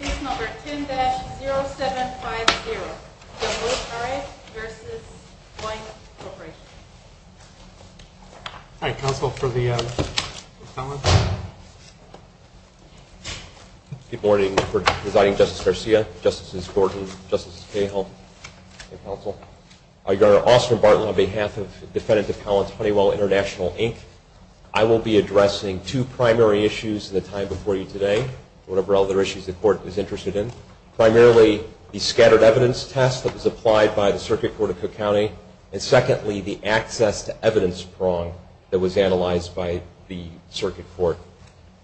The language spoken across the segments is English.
10-0750 Good Morning, Presiding Justice Garcia, Justices Gordon, Justice Cahill, and Counsel. Your Honor, Austan Bartlett, on behalf of Defendant Appellant Honeywell International, Inc., I will be addressing two primary issues in the time before you today, whatever other issues the Court is interested in. Primarily, the scattered evidence test that was applied by the Circuit Court of Cook County, and secondly, the access to evidence prong that was analyzed by the Circuit Court.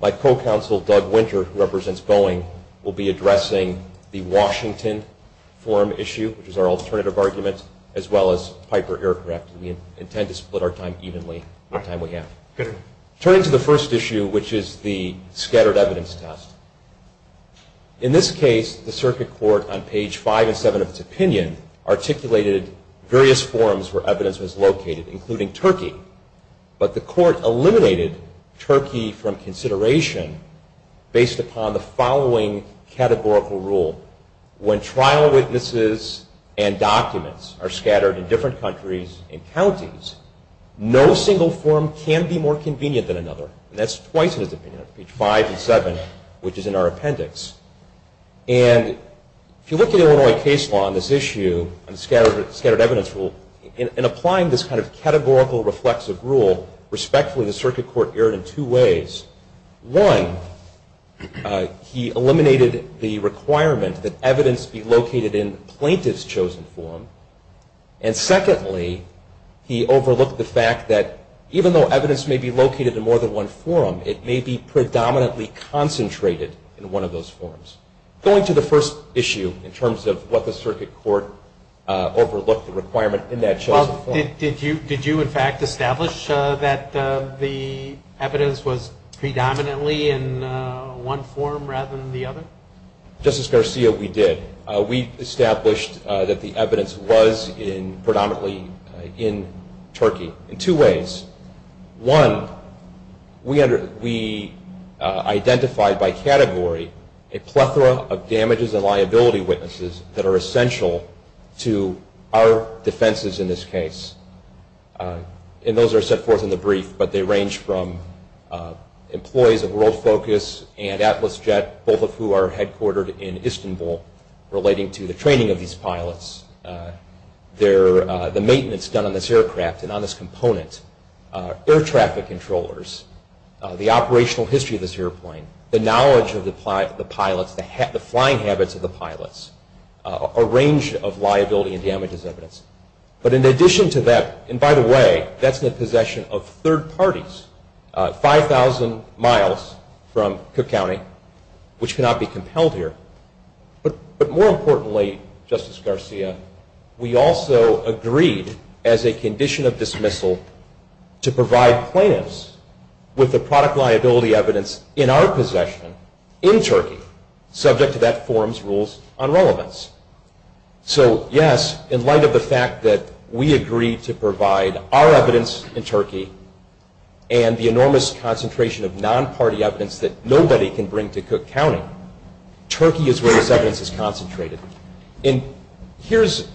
My co-counsel, Doug Winter, who represents Boeing, will be addressing the Washington forum issue, which is our alternative argument, as well as Piper Aircraft. We intend to split our time evenly. Turning to the first issue, which is the scattered evidence test. In this case, the Circuit Court, on page 5 and 7 of its opinion, articulated various forums where evidence was located, including Turkey. But the Court eliminated Turkey from consideration based upon the following categorical rule. When trial witnesses and documents are scattered in different countries and counties, no single forum can be more convenient than another. And that's twice in its opinion, on page 5 and 7, which is in our appendix. And if you look at Illinois case law on this issue, on the scattered evidence rule, in applying this kind of categorical reflexive rule, respectfully, the Circuit Court erred in two ways. One, he eliminated the requirement that evidence be located in the plaintiff's chosen forum. And secondly, he overlooked the fact that even though evidence may be located in more than one forum, it may be predominantly concentrated in one of those forums. Going to the first issue, in terms of what the Circuit Court overlooked, the requirement in that chosen forum. Did you, in fact, establish that the evidence was predominantly in one forum rather than the other? Justice Garcia, we did. We established that the evidence was predominantly in Turkey in two ways. One, we identified by category a plethora of damages and liability witnesses that are essential to our defenses in this case. And those are set forth in the brief, but they range from employees of World Focus and Atlas Jet, both of who are headquartered in Istanbul, relating to the training of these pilots, the maintenance done on this aircraft and on this component, air traffic controllers, the operational history of this airplane, the knowledge of the pilots, the flying habits of the pilots, a range of liability and damages evidence. But in addition to that, and by the way, that's in the possession of third parties, 5,000 miles from Cook County, which cannot be compelled here. But more importantly, Justice Garcia, we also agreed as a condition of dismissal to provide plaintiffs with the product liability evidence in our possession in Turkey, subject to that forum's rules on relevance. So, yes, in light of the fact that we agreed to provide our evidence in Turkey and the enormous concentration of non-party evidence that nobody can bring to Cook County, Turkey is where this evidence is concentrated. And here's,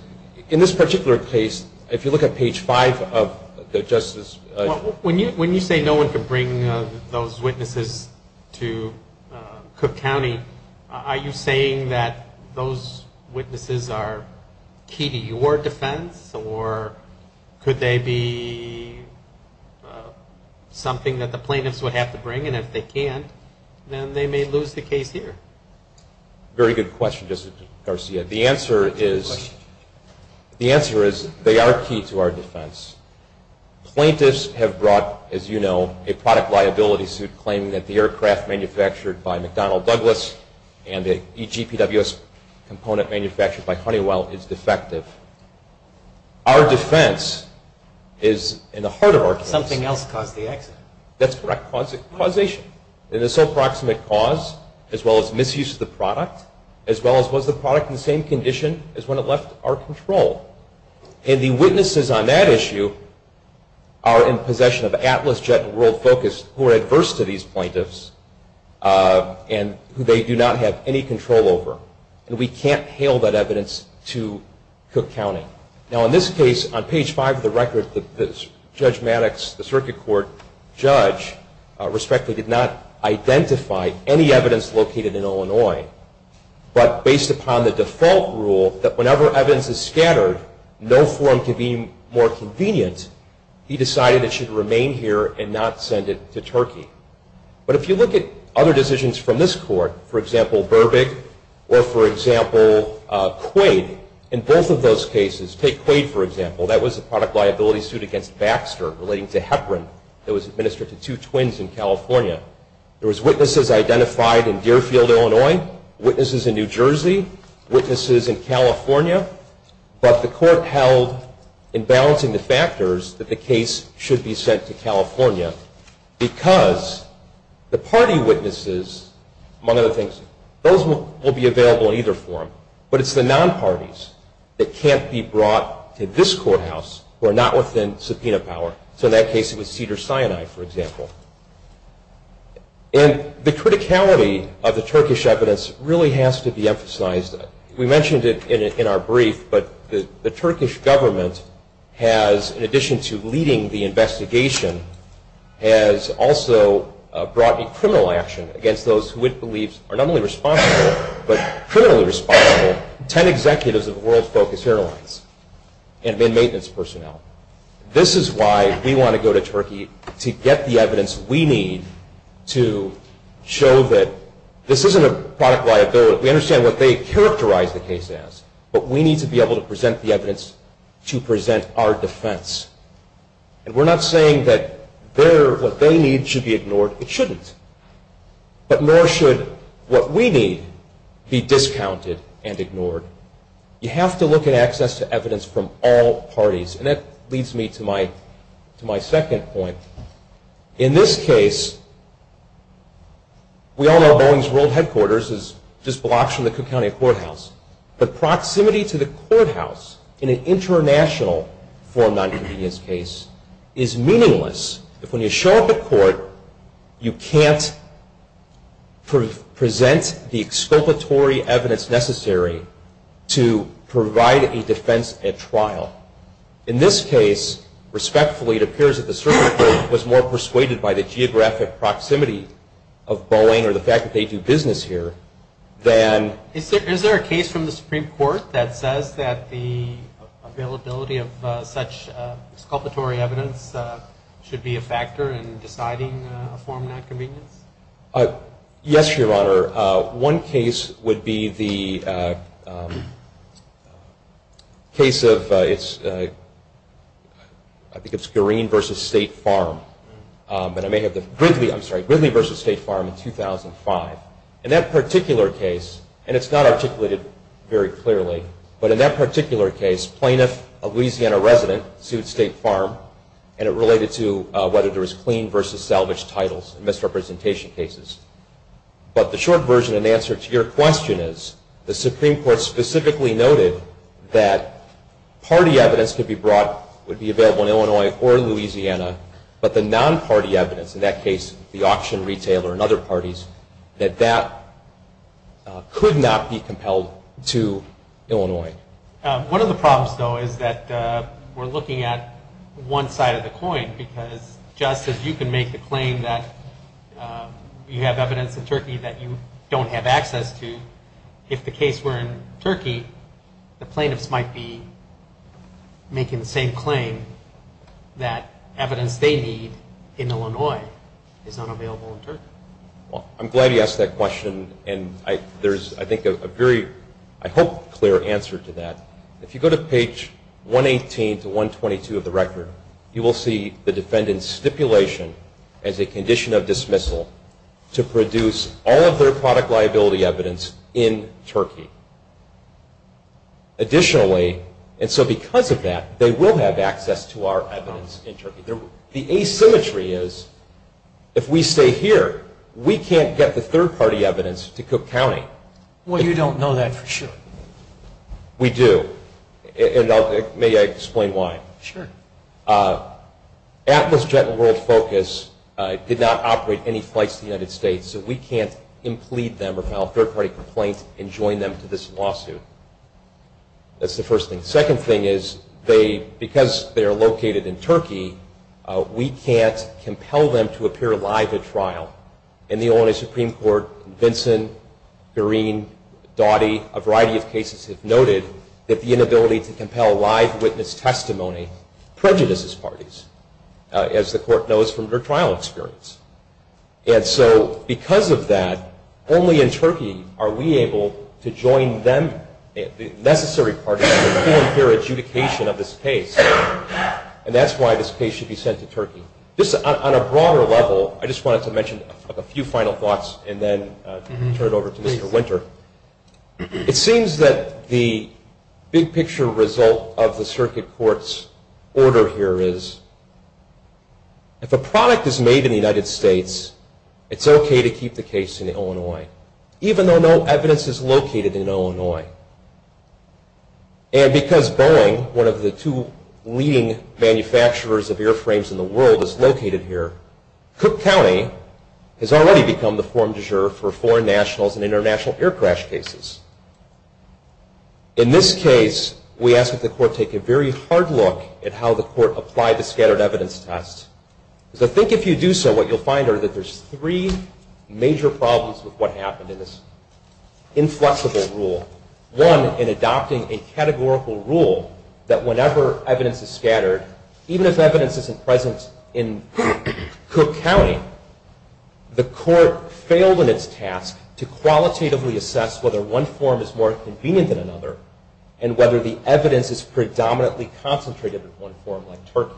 in this particular case, if you look at page five of the Justice. When you say no one can bring those witnesses to Cook County, are you saying that those witnesses are key to your defense, or could they be something that the plaintiffs would have to bring? And if they can't, then they may lose the case here. Very good question, Justice Garcia. The answer is they are key to our defense. Plaintiffs have brought, as you know, a product liability suit claiming that the aircraft manufactured by McDonnell Douglas and the EGPWS component manufactured by Honeywell is defective. Our defense is in the heart of our case. Something else caused the accident. That's correct, causation. It is so proximate cause, as well as misuse of the product, as well as was the product in the same condition as when it left our control. And the witnesses on that issue are in possession of Atlas Jet and World Focus, who are adverse to these plaintiffs and who they do not have any control over. And we can't hail that evidence to Cook County. Now, in this case, on page five of the record, Judge Maddox, the circuit court judge, respectively, did not identify any evidence located in Illinois. But based upon the default rule that whenever evidence is scattered, no form can be more convenient, he decided it should remain here and not send it to Turkey. But if you look at other decisions from this court, for example, Burbick, or, for example, Quaid, in both of those cases, take Quaid, for example, that was a product liability suit against Baxter relating to Heparin that was administered to two twins in California. There was witnesses identified in Deerfield, Illinois, witnesses in New Jersey, witnesses in California. But the court held, in balancing the factors, that the case should be sent to California because the party witnesses, among other things, those will be available in either form. But it's the non-parties that can't be brought to this courthouse who are not within subpoena power. So in that case, it was Cedars-Sinai, for example. And the criticality of the Turkish evidence really has to be emphasized. We mentioned it in our brief, but the Turkish government has, in addition to leading the investigation, has also brought in criminal action against those who it believes are not only responsible, but criminally responsible, 10 executives of World Focus Airlines and maintenance personnel. This is why we want to go to Turkey to get the evidence we need to show that this isn't a product liability. We understand what they characterize the case as, but we need to be able to present the evidence to present our defense. And we're not saying that what they need should be ignored. It shouldn't. You have to look at access to evidence from all parties. And that leads me to my second point. In this case, we all know Boeing's world headquarters is just blocks from the Cook County Courthouse. But proximity to the courthouse in an international form non-convenience case is meaningless. If when you show up at court, you can't present the exculpatory evidence necessary to provide a defense at trial. In this case, respectfully, it appears that the Supreme Court was more persuaded by the geographic proximity of Boeing or the fact that they do business here than- Is there a case from the Supreme Court that says that the availability of such exculpatory evidence should be a factor in deciding a form of non-convenience? Yes, Your Honor. One case would be the case of- I think it's Green v. State Farm. But I may have the- Gridley, I'm sorry, Gridley v. State Farm in 2005. In that particular case, and it's not articulated very clearly, but in that particular case, plaintiff, a Louisiana resident, sued State Farm. And it related to whether there was clean versus salvage titles in misrepresentation cases. But the short version and answer to your question is the Supreme Court specifically noted that party evidence could be brought, would be available in Illinois or Louisiana, but the non-party evidence, in that case the auction retailer and other parties, that that could not be compelled to Illinois. One of the problems, though, is that we're looking at one side of the coin because just as you can make the claim that you have evidence in Turkey that you don't have access to, if the case were in Turkey, the plaintiffs might be making the same claim that evidence they need in Illinois is not available in Turkey. Well, I'm glad you asked that question, and there's, I think, a very, I hope, clear answer to that. If you go to page 118 to 122 of the record, you will see the defendant's stipulation as a condition of dismissal to produce all of their product liability evidence in Turkey. Additionally, and so because of that, they will have access to our evidence in Turkey. The asymmetry is if we stay here, we can't get the third-party evidence to Cook County. Well, you don't know that for sure. We do, and may I explain why? Sure. Atlas Jet and World Focus did not operate any flights to the United States, so we can't implead them or file a third-party complaint and join them to this lawsuit. That's the first thing. The second thing is because they are located in Turkey, we can't compel them to appear live at trial. In the Illinois Supreme Court, Vinson, Green, Doughty, a variety of cases have noted that the inability to compel live witness testimony prejudices parties, as the court knows from their trial experience. And so because of that, only in Turkey are we able to join them, the necessary parties for the full and fair adjudication of this case, and that's why this case should be sent to Turkey. On a broader level, I just wanted to mention a few final thoughts and then turn it over to Mr. Winter. It seems that the big-picture result of the circuit court's order here is, if a product is made in the United States, it's okay to keep the case in Illinois, even though no evidence is located in Illinois. And because Boeing, one of the two leading manufacturers of airframes in the world, is located here, Cook County has already become the form du jour for foreign nationals and international air crash cases. In this case, we ask that the court take a very hard look at how the court apply the scattered evidence test. Because I think if you do so, what you'll find are that there's three major problems with what happened in this inflexible rule. One, in adopting a categorical rule that whenever evidence is scattered, even if evidence isn't present in Cook County, the court failed in its task to qualitatively assess whether one form is more convenient than another and whether the evidence is predominantly concentrated in one form like Turkey.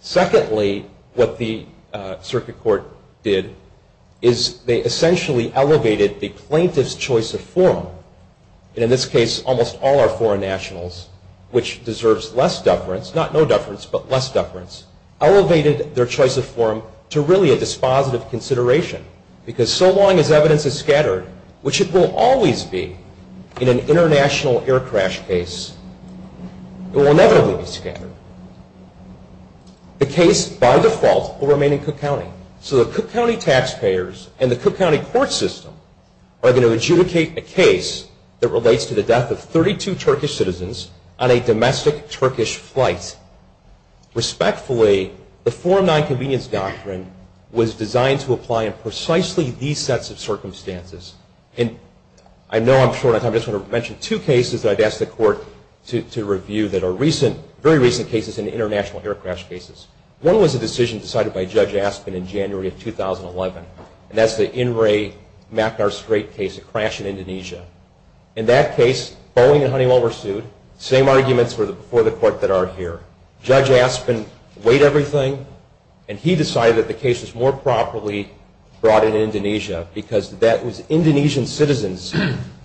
Secondly, what the circuit court did is they essentially elevated the plaintiff's choice of form, and in this case, almost all our foreign nationals, which deserves less deference, not no deference, but less deference, elevated their choice of form to really a dispositive consideration. Because so long as evidence is scattered, which it will always be in an international air crash case, it will inevitably be scattered. The case, by default, will remain in Cook County. So the Cook County taxpayers and the Cook County court system are going to adjudicate a case that relates to the death of 32 Turkish citizens on a domestic Turkish flight. Respectfully, the Form 9 Convenience Doctrine was designed to apply in precisely these sets of circumstances. And I know I'm short on time. I just want to mention two cases that I've asked the court to review that are recent, very recent cases in international air crash cases. One was a decision decided by Judge Aspin in January of 2011, and that's the In-Ray McNair Strait case, a crash in Indonesia. In that case, Boeing and Honeywell were sued. Same arguments were before the court that aren't here. Judge Aspin weighed everything, and he decided that the case was more properly brought in Indonesia because that was Indonesian citizens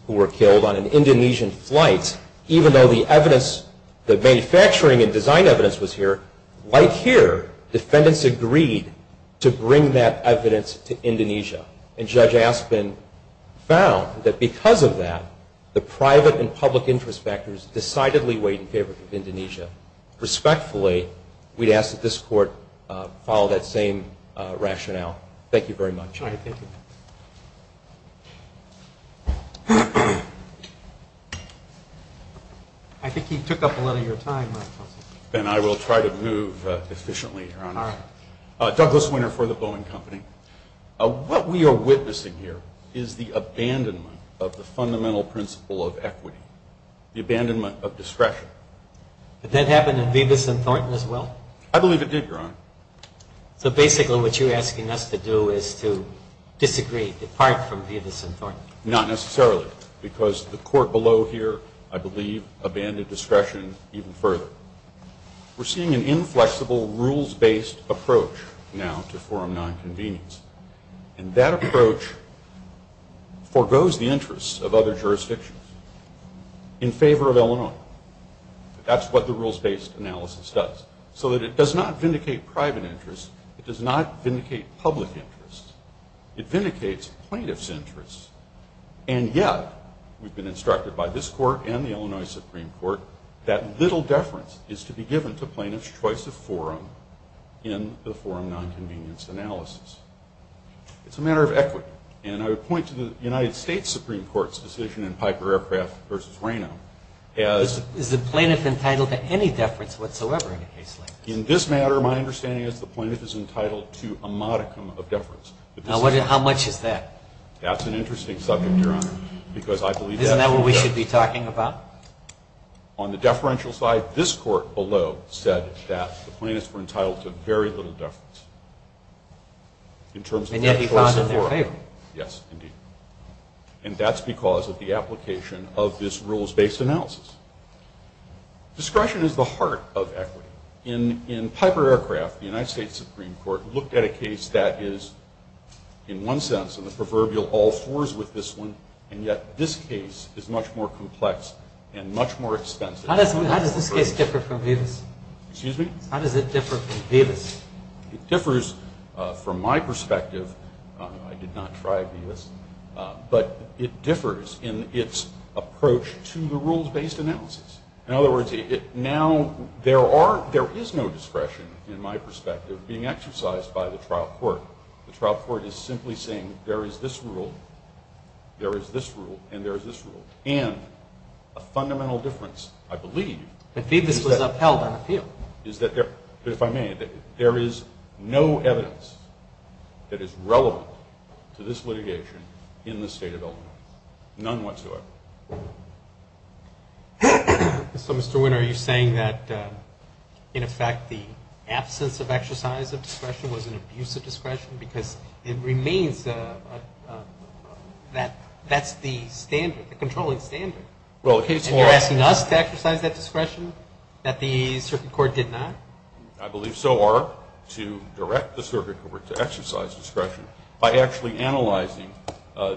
who were killed on an Indonesian flight, even though the manufacturing and design evidence was here. Right here, defendants agreed to bring that evidence to Indonesia. And Judge Aspin found that because of that, the private and public interest factors decidedly weighed in favor of Indonesia. Respectfully, we'd ask that this court follow that same rationale. Thank you very much. Thank you. I think he took up a lot of your time. Then I will try to move efficiently, Your Honor. Douglas Winter for the Boeing Company. What we are witnessing here is the abandonment of the fundamental principle of equity, the abandonment of discretion. Did that happen in Vivas and Thornton as well? I believe it did, Your Honor. So basically what you're asking us to do is to disagree, depart from Vivas and Thornton. Not necessarily, because the court below here, I believe, abandoned discretion even further. We're seeing an inflexible rules-based approach now to forum nonconvenience. And that approach forgoes the interests of other jurisdictions in favor of Illinois. That's what the rules-based analysis does. So it does not vindicate private interests. It does not vindicate public interests. It vindicates plaintiff's interests. And yet, we've been instructed by this court and the Illinois Supreme Court, that little deference is to be given to plaintiff's choice of forum in the forum nonconvenience analysis. It's a matter of equity. And I would point to the United States Supreme Court's decision in Piper Aircraft v. Is the plaintiff entitled to any deference whatsoever in a case like this? In this matter, my understanding is the plaintiff is entitled to a modicum of deference. Now, how much is that? That's an interesting subject, Your Honor. Isn't that what we should be talking about? On the deferential side, this court below said that the plaintiffs were entitled to very little deference. And yet, he found it in their favor. Yes, indeed. And that's because of the application of this rules-based analysis. Discretion is the heart of equity. In Piper Aircraft, the United States Supreme Court looked at a case that is, in one sense, in the proverbial all fours with this one, and yet this case is much more complex and much more expensive. How does this case differ from Davis? Excuse me? How does it differ from Davis? It differs from my perspective. I did not try Davis. But it differs in its approach to the rules-based analysis. In other words, now there is no discretion, in my perspective, being exercised by the trial court. The trial court is simply saying there is this rule, there is this rule, and there is this rule. And a fundamental difference, I believe, is that if I may, there is no evidence that is relevant to this litigation in the state of Illinois. None whatsoever. So, Mr. Wynne, are you saying that, in effect, the absence of exercise of discretion was an abuse of discretion? Because it remains that that's the standard, the controlling standard. And you're asking us to exercise that discretion that the Supreme Court did not? I believe so, or to direct the circuit court to exercise discretion by actually analyzing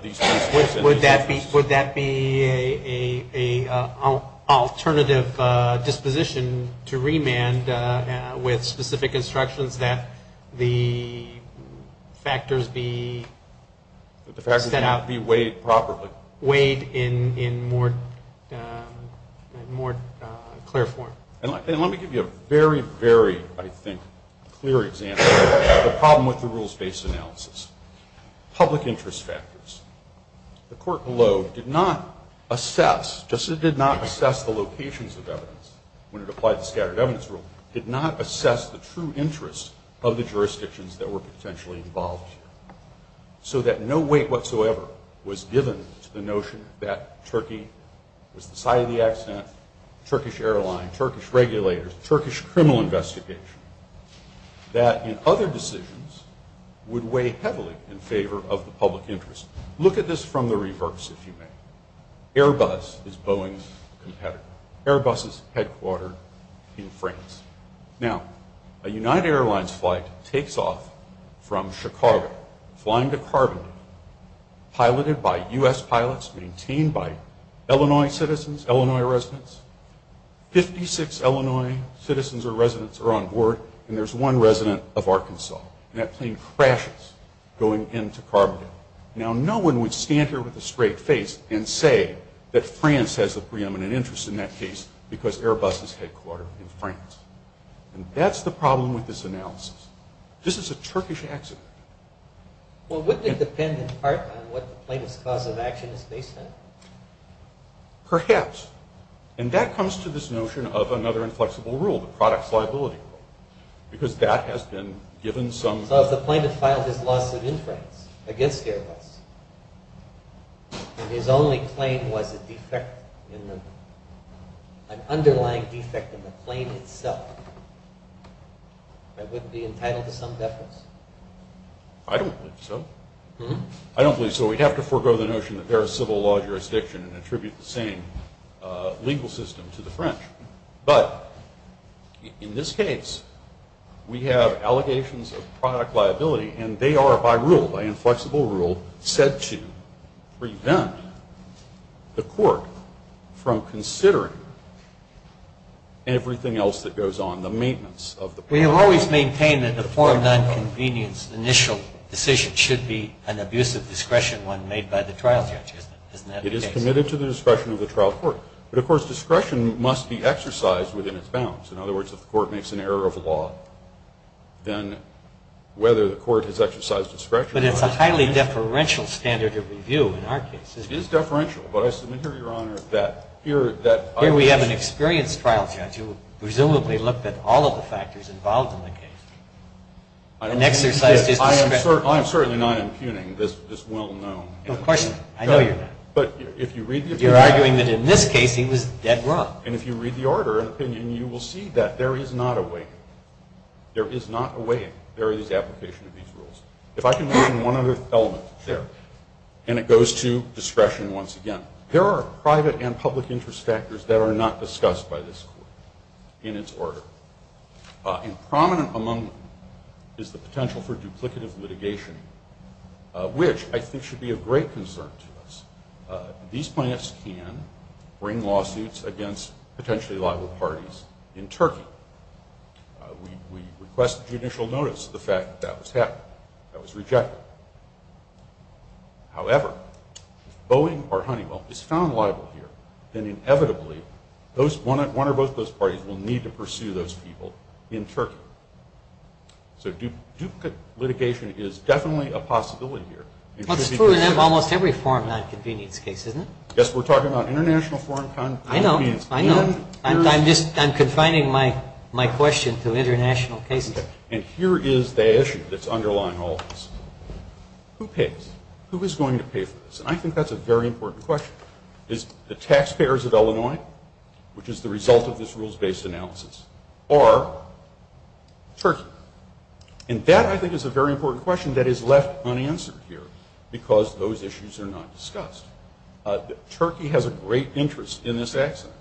these principles. Would that be an alternative disposition to remand with specific instructions that the factors be set out? That the factors be weighed properly. Weighed in more clear form. And let me give you a very, very, I think, clear example of the problem with the rules-based analysis. Public interest factors. The court below did not assess, just as it did not assess the locations of evidence when it applied the scattered evidence rule, did not assess the true interests of the jurisdictions that were potentially involved here. So that no weight whatsoever was given to the notion that Turkey was the site of the accident, Turkish airline, Turkish regulators, Turkish criminal investigation, that in other decisions would weigh heavily in favor of the public interest. Look at this from the reverse, if you may. Airbus is Boeing's competitor. Airbus is headquartered in France. Now, a United Airlines flight takes off from Chicago, flying to Carbondale, piloted by U.S. pilots, maintained by Illinois citizens, Illinois residents. Fifty-six Illinois citizens or residents are on board, and there's one resident of Arkansas. And that plane crashes going into Carbondale. Now, no one would stand here with a straight face and say that France has a preeminent interest in that case because Airbus is headquartered in France. And that's the problem with this analysis. This is a Turkish accident. Well, wouldn't it depend in part on what the plane's cause of action is based on? Perhaps. And that comes to this notion of another inflexible rule, the product's liability rule, because that has been given some – So if the plane had filed his loss of inference against Airbus, and his only claim was a defect in the – an underlying defect in the plane itself, that wouldn't be entitled to some deference? I don't believe so. I don't believe so. We'd have to forego the notion that they're a civil law jurisdiction and attribute the same legal system to the French. But in this case, we have allegations of product liability, and they are, by rule, by inflexible rule, said to prevent the court from considering everything else that goes on, the maintenance of the plane. We have always maintained that the foreign nonconvenience initial decision should be an abusive discretion when made by the trial judge. Isn't that the case? It is committed to the discretion of the trial court. But, of course, discretion must be exercised within its bounds. In other words, if the court makes an error of law, then whether the court has exercised discretion – But it's a highly deferential standard of review in our case. It is deferential. But I submit here, Your Honor, that here – Here we have an experienced trial judge who presumably looked at all of the factors involved in the case and exercised his discretion. I am certainly not impugning this well-known – Of course not. I know you're not. But if you read the – You're arguing that in this case he was dead wrong. And if you read the order and opinion, you will see that there is not a way – there is not a way in various application of these rules. If I can mention one other element there – Sure. And it goes to discretion once again. There are private and public interest factors that are not discussed by this court in its order. Improminent among them is the potential for duplicative litigation, which I think should be of great concern to us. These plaintiffs can bring lawsuits against potentially liable parties in Turkey. We request judicial notice of the fact that that was happening. That was rejected. However, if Boeing or Honeywell is found liable here, then inevitably one or both of those parties will need to pursue those people in Turkey. So duplicate litigation is definitely a possibility here. It should be considered. That's true in almost every foreign nonconvenience case, isn't it? Yes, we're talking about international foreign – I know. I know. I'm adding my question to international cases. And here is the issue that's underlying all of this. Who pays? Who is going to pay for this? And I think that's a very important question. Is it the taxpayers of Illinois, which is the result of this rules-based analysis, or Turkey? And that, I think, is a very important question that is left unanswered here because those issues are not discussed. Turkey has a great interest in this accident.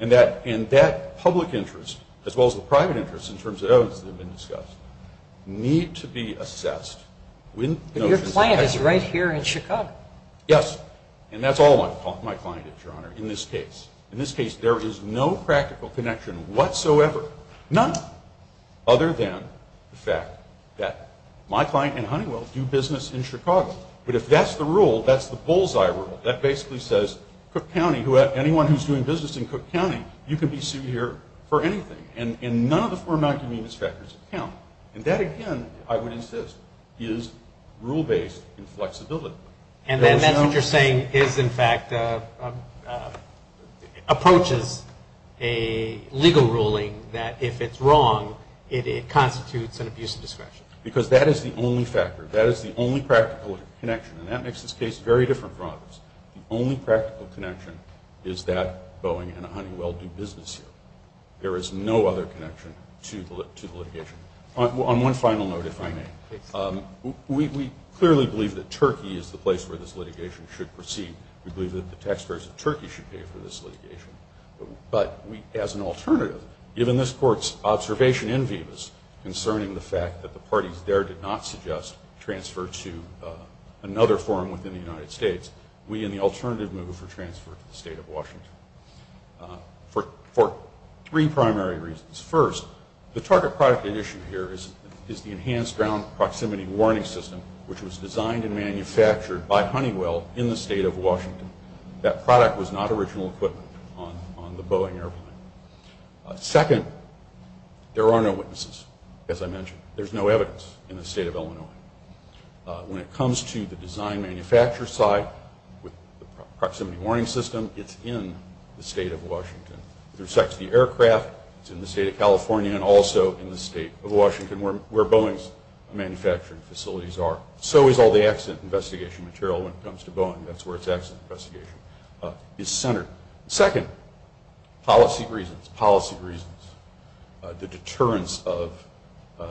And that public interest, as well as the private interest, in terms of those that have been discussed, need to be assessed. But your client is right here in Chicago. Yes, and that's all my client is, Your Honor, in this case. In this case, there is no practical connection whatsoever, none, other than the fact that my client and Honeywell do business in Chicago. But if that's the rule, that's the bull's-eye rule. That basically says Cook County, anyone who is doing business in Cook County, you can be sued here for anything. And none of the four non-convenience factors count. And that, again, I would insist, is rule-based inflexibility. And that's what you're saying is, in fact, approaches a legal ruling that, if it's wrong, it constitutes an abuse of discretion. Because that is the only factor. That is the only practical connection. And that makes this case very different from others. The only practical connection is that Boeing and Honeywell do business here. There is no other connection to the litigation. On one final note, if I may, we clearly believe that Turkey is the place where this litigation should proceed. We believe that the taxpayers of Turkey should pay for this litigation. But as an alternative, given this Court's observation in Vivas concerning the fact that the parties there did not suggest transfer to another forum within the United States, we in the alternative move for transfer to the State of Washington for three primary reasons. First, the target product at issue here is the Enhanced Ground Proximity Warning System, which was designed and manufactured by Honeywell in the State of Washington. That product was not original equipment on the Boeing airplane. Second, there are no witnesses, as I mentioned. There is no evidence in the State of Illinois. When it comes to the design-manufacture side with the Proximity Warning System, it is in the State of Washington. It intersects the aircraft. It is in the State of California and also in the State of Washington, where Boeing's manufacturing facilities are. So is all the accident investigation material when it comes to Boeing. That is where its accident investigation is centered. Second, policy reasons. Policy reasons. The deterrence of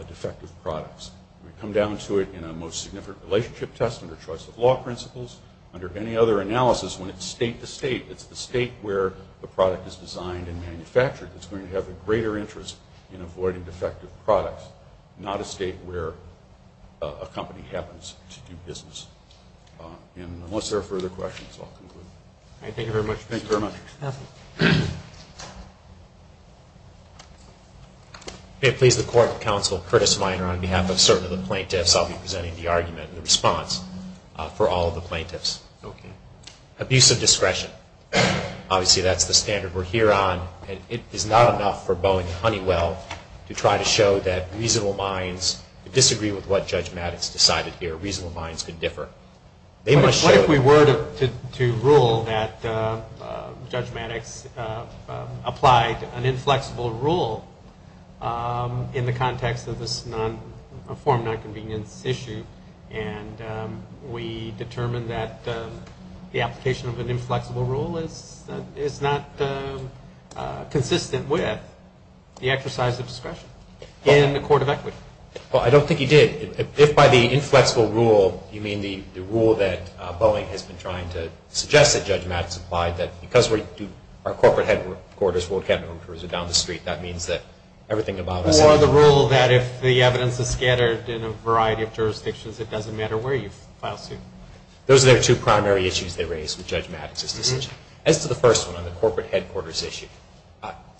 defective products. We come down to it in a most significant relationship test under choice-of-law principles. Under any other analysis, when it's state-to-state, it's the state where the product is designed and manufactured that's going to have a greater interest in avoiding defective products, not a state where a company happens to do business. And unless there are further questions, I'll conclude. All right, thank you very much. Thank you very much. May it please the Court of Counsel, Curtis Minor, on behalf of certain of the plaintiffs, I'll be presenting the argument and the response for all of the plaintiffs. Okay. Abuse of discretion. Obviously, that's the standard we're here on. It is not enough for Boeing and Honeywell to try to show that reasonable minds disagree with what Judge Maddox decided here. Reasonable minds can differ. What if we were to rule that Judge Maddox applied an inflexible rule in the context of this form of nonconvenience issue and we determined that the application of an inflexible rule is not consistent with the exercise of discretion in the court of equity? Well, I don't think he did. If by the inflexible rule, you mean the rule that Boeing has been trying to suggest that Judge Maddox applied, that because our corporate headquarters, World Capital, is down the street, that means that everything about us Or the rule that if the evidence is scattered in a variety of jurisdictions, it doesn't matter where you file suit. Those are the two primary issues they raised with Judge Maddox's decision. As to the first one, on the corporate headquarters issue,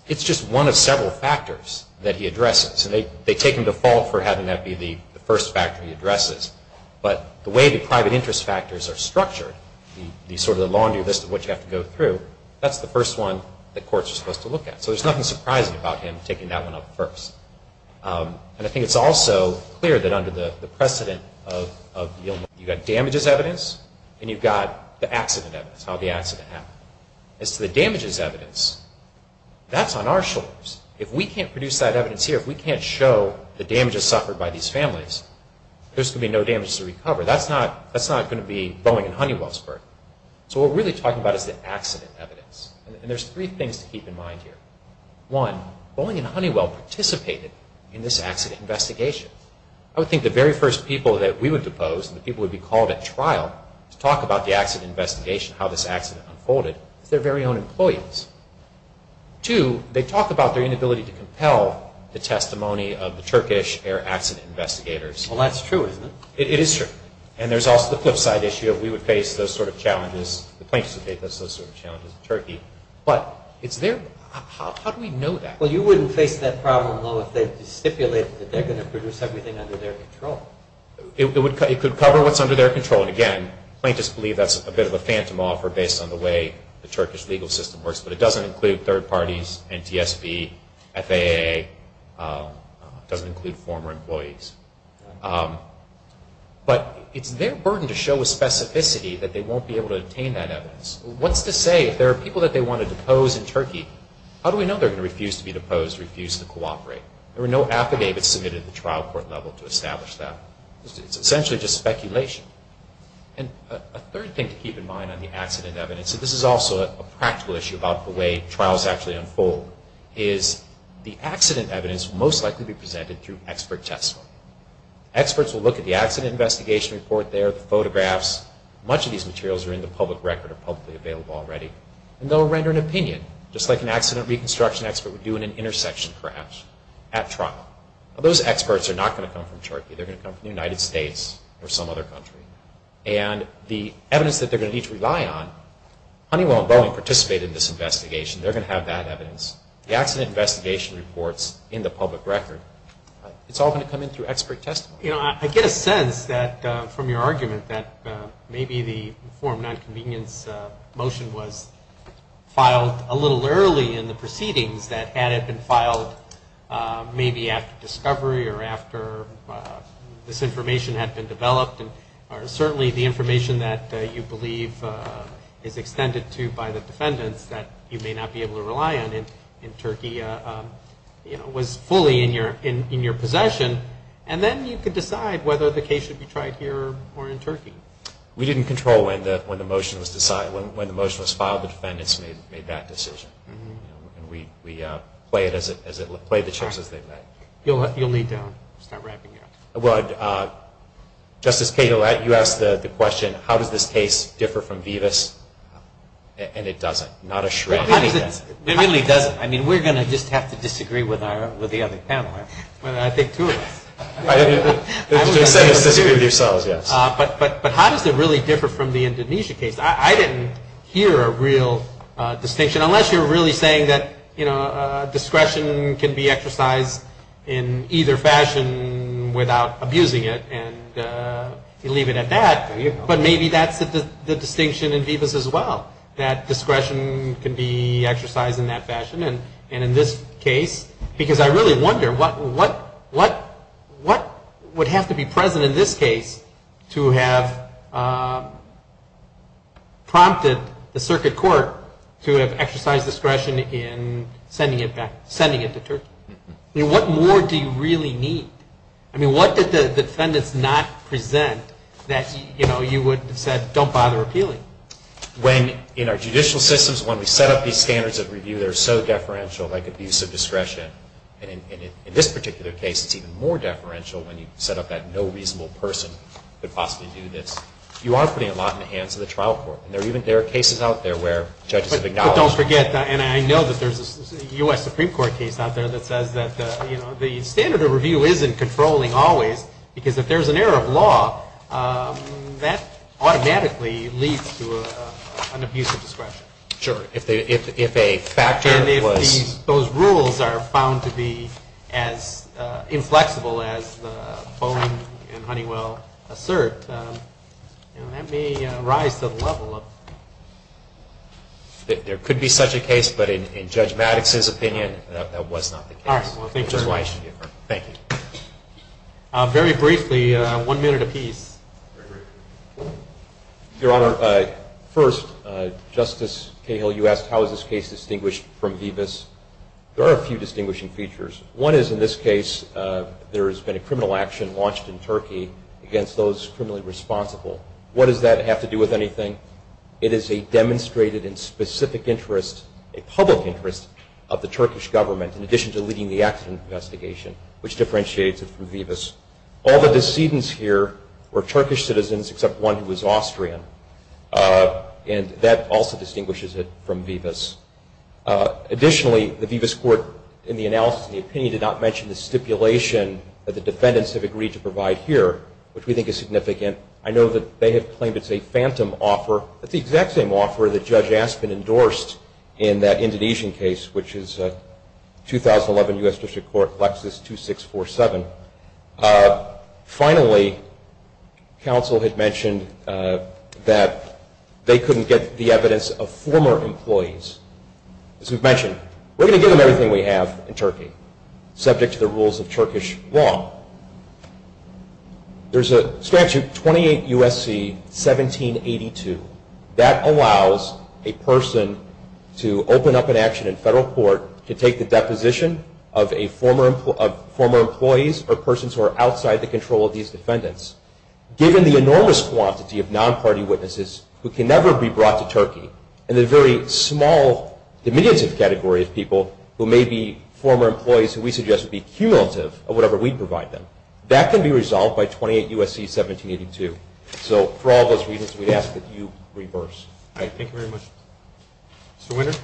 it's just one of several factors that he addresses. And they take him to fault for having that be the first factor he addresses. But the way the private interest factors are structured, the sort of laundry list of what you have to go through, that's the first one that courts are supposed to look at. So there's nothing surprising about him taking that one up first. And I think it's also clear that under the precedent of the illness, you've got damages evidence and you've got the accident evidence, how the accident happened. As to the damages evidence, that's on our shoulders. If we can't produce that evidence here, if we can't show the damages suffered by these families, there's going to be no damages to recover. That's not going to be Boeing and Honeywell's burden. So what we're really talking about is the accident evidence. And there's three things to keep in mind here. One, Boeing and Honeywell participated in this accident investigation. I would think the very first people that we would depose and the people who would be called at trial to talk about the accident investigation, how this accident unfolded, is their very own employees. Two, they talk about their inability to compel the testimony of the Turkish air accident investigators. Well, that's true, isn't it? It is true. And there's also the flip side issue of we would face those sort of challenges, the plaintiffs would face those sort of challenges in Turkey. But it's their, how do we know that? Well, you wouldn't face that problem, though, if they stipulated that they're going to produce everything under their control. It could cover what's under their control. And again, plaintiffs believe that's a bit of a phantom offer based on the way the Turkish legal system works, but it doesn't include third parties, NTSB, FAA, doesn't include former employees. But it's their burden to show a specificity that they won't be able to obtain that evidence. What's to say if there are people that they want to depose in Turkey, how do we know they're going to refuse to be deposed, refuse to cooperate? There were no affidavits submitted at the trial court level to establish that. It's essentially just speculation. And a third thing to keep in mind on the accident evidence, and this is also a practical issue about the way trials actually unfold, is the accident evidence will most likely be presented through expert testimony. Experts will look at the accident investigation report there, the photographs. Much of these materials are in the public record or publicly available already. And they'll render an opinion, just like an accident reconstruction expert would do in an intersection crash at trial. Now, those experts are not going to come from Turkey. They're going to come from the United States or some other country. And the evidence that they're going to need to rely on, Honeywell and Boeing participated in this investigation. They're going to have that evidence. The accident investigation reports in the public record. It's all going to come in through expert testimony. You know, I get a sense from your argument that maybe the informed nonconvenience motion was filed a little early in the proceedings that had it been filed maybe after discovery or after this information had been developed. And certainly the information that you believe is extended to by the defendants that you may not be able to rely on in Turkey, you know, was fully in your possession. And then you could decide whether the case should be tried here or in Turkey. We didn't control when the motion was decided. When the motion was filed, the defendants made that decision. We played the chips as they met. You'll need to start wrapping up. Well, Justice Cadillac, you asked the question, how does this case differ from Vivas? And it doesn't. Not a shred. It really doesn't. I mean, we're going to just have to disagree with the other panel. I think two of us. Just disagree with yourselves, yes. But how does it really differ from the Indonesia case? I didn't hear a real distinction, unless you're really saying that, you know, in either fashion without abusing it, and you leave it at that. But maybe that's the distinction in Vivas as well, that discretion can be exercised in that fashion. And in this case, because I really wonder what would have to be present in this case to have prompted the circuit court to have exercised discretion in sending it back, I mean, what more do you really need? I mean, what did the defendants not present that, you know, you would have said, don't bother appealing? When in our judicial systems, when we set up these standards of review, they're so deferential, like abuse of discretion. And in this particular case, it's even more deferential when you set up that no reasonable person could possibly do this. You are putting a lot in the hands of the trial court. And there are cases out there where judges have acknowledged that. And I know that there's a U.S. Supreme Court case out there that says that, you know, the standard of review isn't controlling always, because if there's an error of law, that automatically leads to an abuse of discretion. Sure, if a factor was. And if those rules are found to be as inflexible as Bowen and Honeywell assert, you know, that may rise to the level of. There could be such a case, but in Judge Maddox's opinion, that was not the case. All right, well, thank you very much. Thank you. Very briefly, one minute apiece. Your Honor, first, Justice Cahill, you asked how is this case distinguished from Vivas. There are a few distinguishing features. One is, in this case, there has been a criminal action launched in Turkey against those criminally responsible. What does that have to do with anything? It is a demonstrated and specific interest, a public interest, of the Turkish government, in addition to leading the accident investigation, which differentiates it from Vivas. All the decedents here were Turkish citizens except one who was Austrian. And that also distinguishes it from Vivas. Additionally, the Vivas court, in the analysis of the opinion, did not mention the stipulation that the defendants have agreed to provide here, which we think is significant. I know that they have claimed it's a phantom offer. It's the exact same offer that Judge Aspin endorsed in that Indonesian case, which is 2011 U.S. District Court Lexus 2647. Finally, counsel had mentioned that they couldn't get the evidence of former employees. As we've mentioned, we're going to give them everything we have in Turkey, subject to the rules of Turkish law. There's a statute, 28 U.S.C. 1782. That allows a person to open up an action in federal court to take the deposition of former employees or persons who are outside the control of these defendants. Given the enormous quantity of non-party witnesses who can never be brought to Turkey, and the very small diminutive category of people who may be former employees who we suggest would be cumulative of whatever we'd provide them, that can be resolved by 28 U.S.C. 1782. So for all those reasons, we'd ask that you reverse. Thank you very much. Mr. Winter.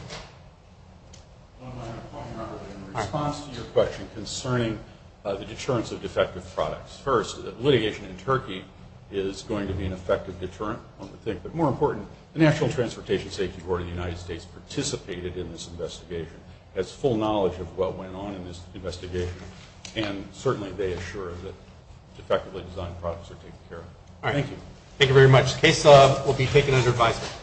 In response to your question concerning the deterrence of defective products, first, litigation in Turkey is going to be an effective deterrent, one would think, but more important, the National Transportation Safety Board of the United States participated in this investigation, has full knowledge of what went on in this investigation, and certainly they assure that defectively designed products are taken care of. All right. Thank you. Thank you very much. The case will be taken under advisory. Court is in recess.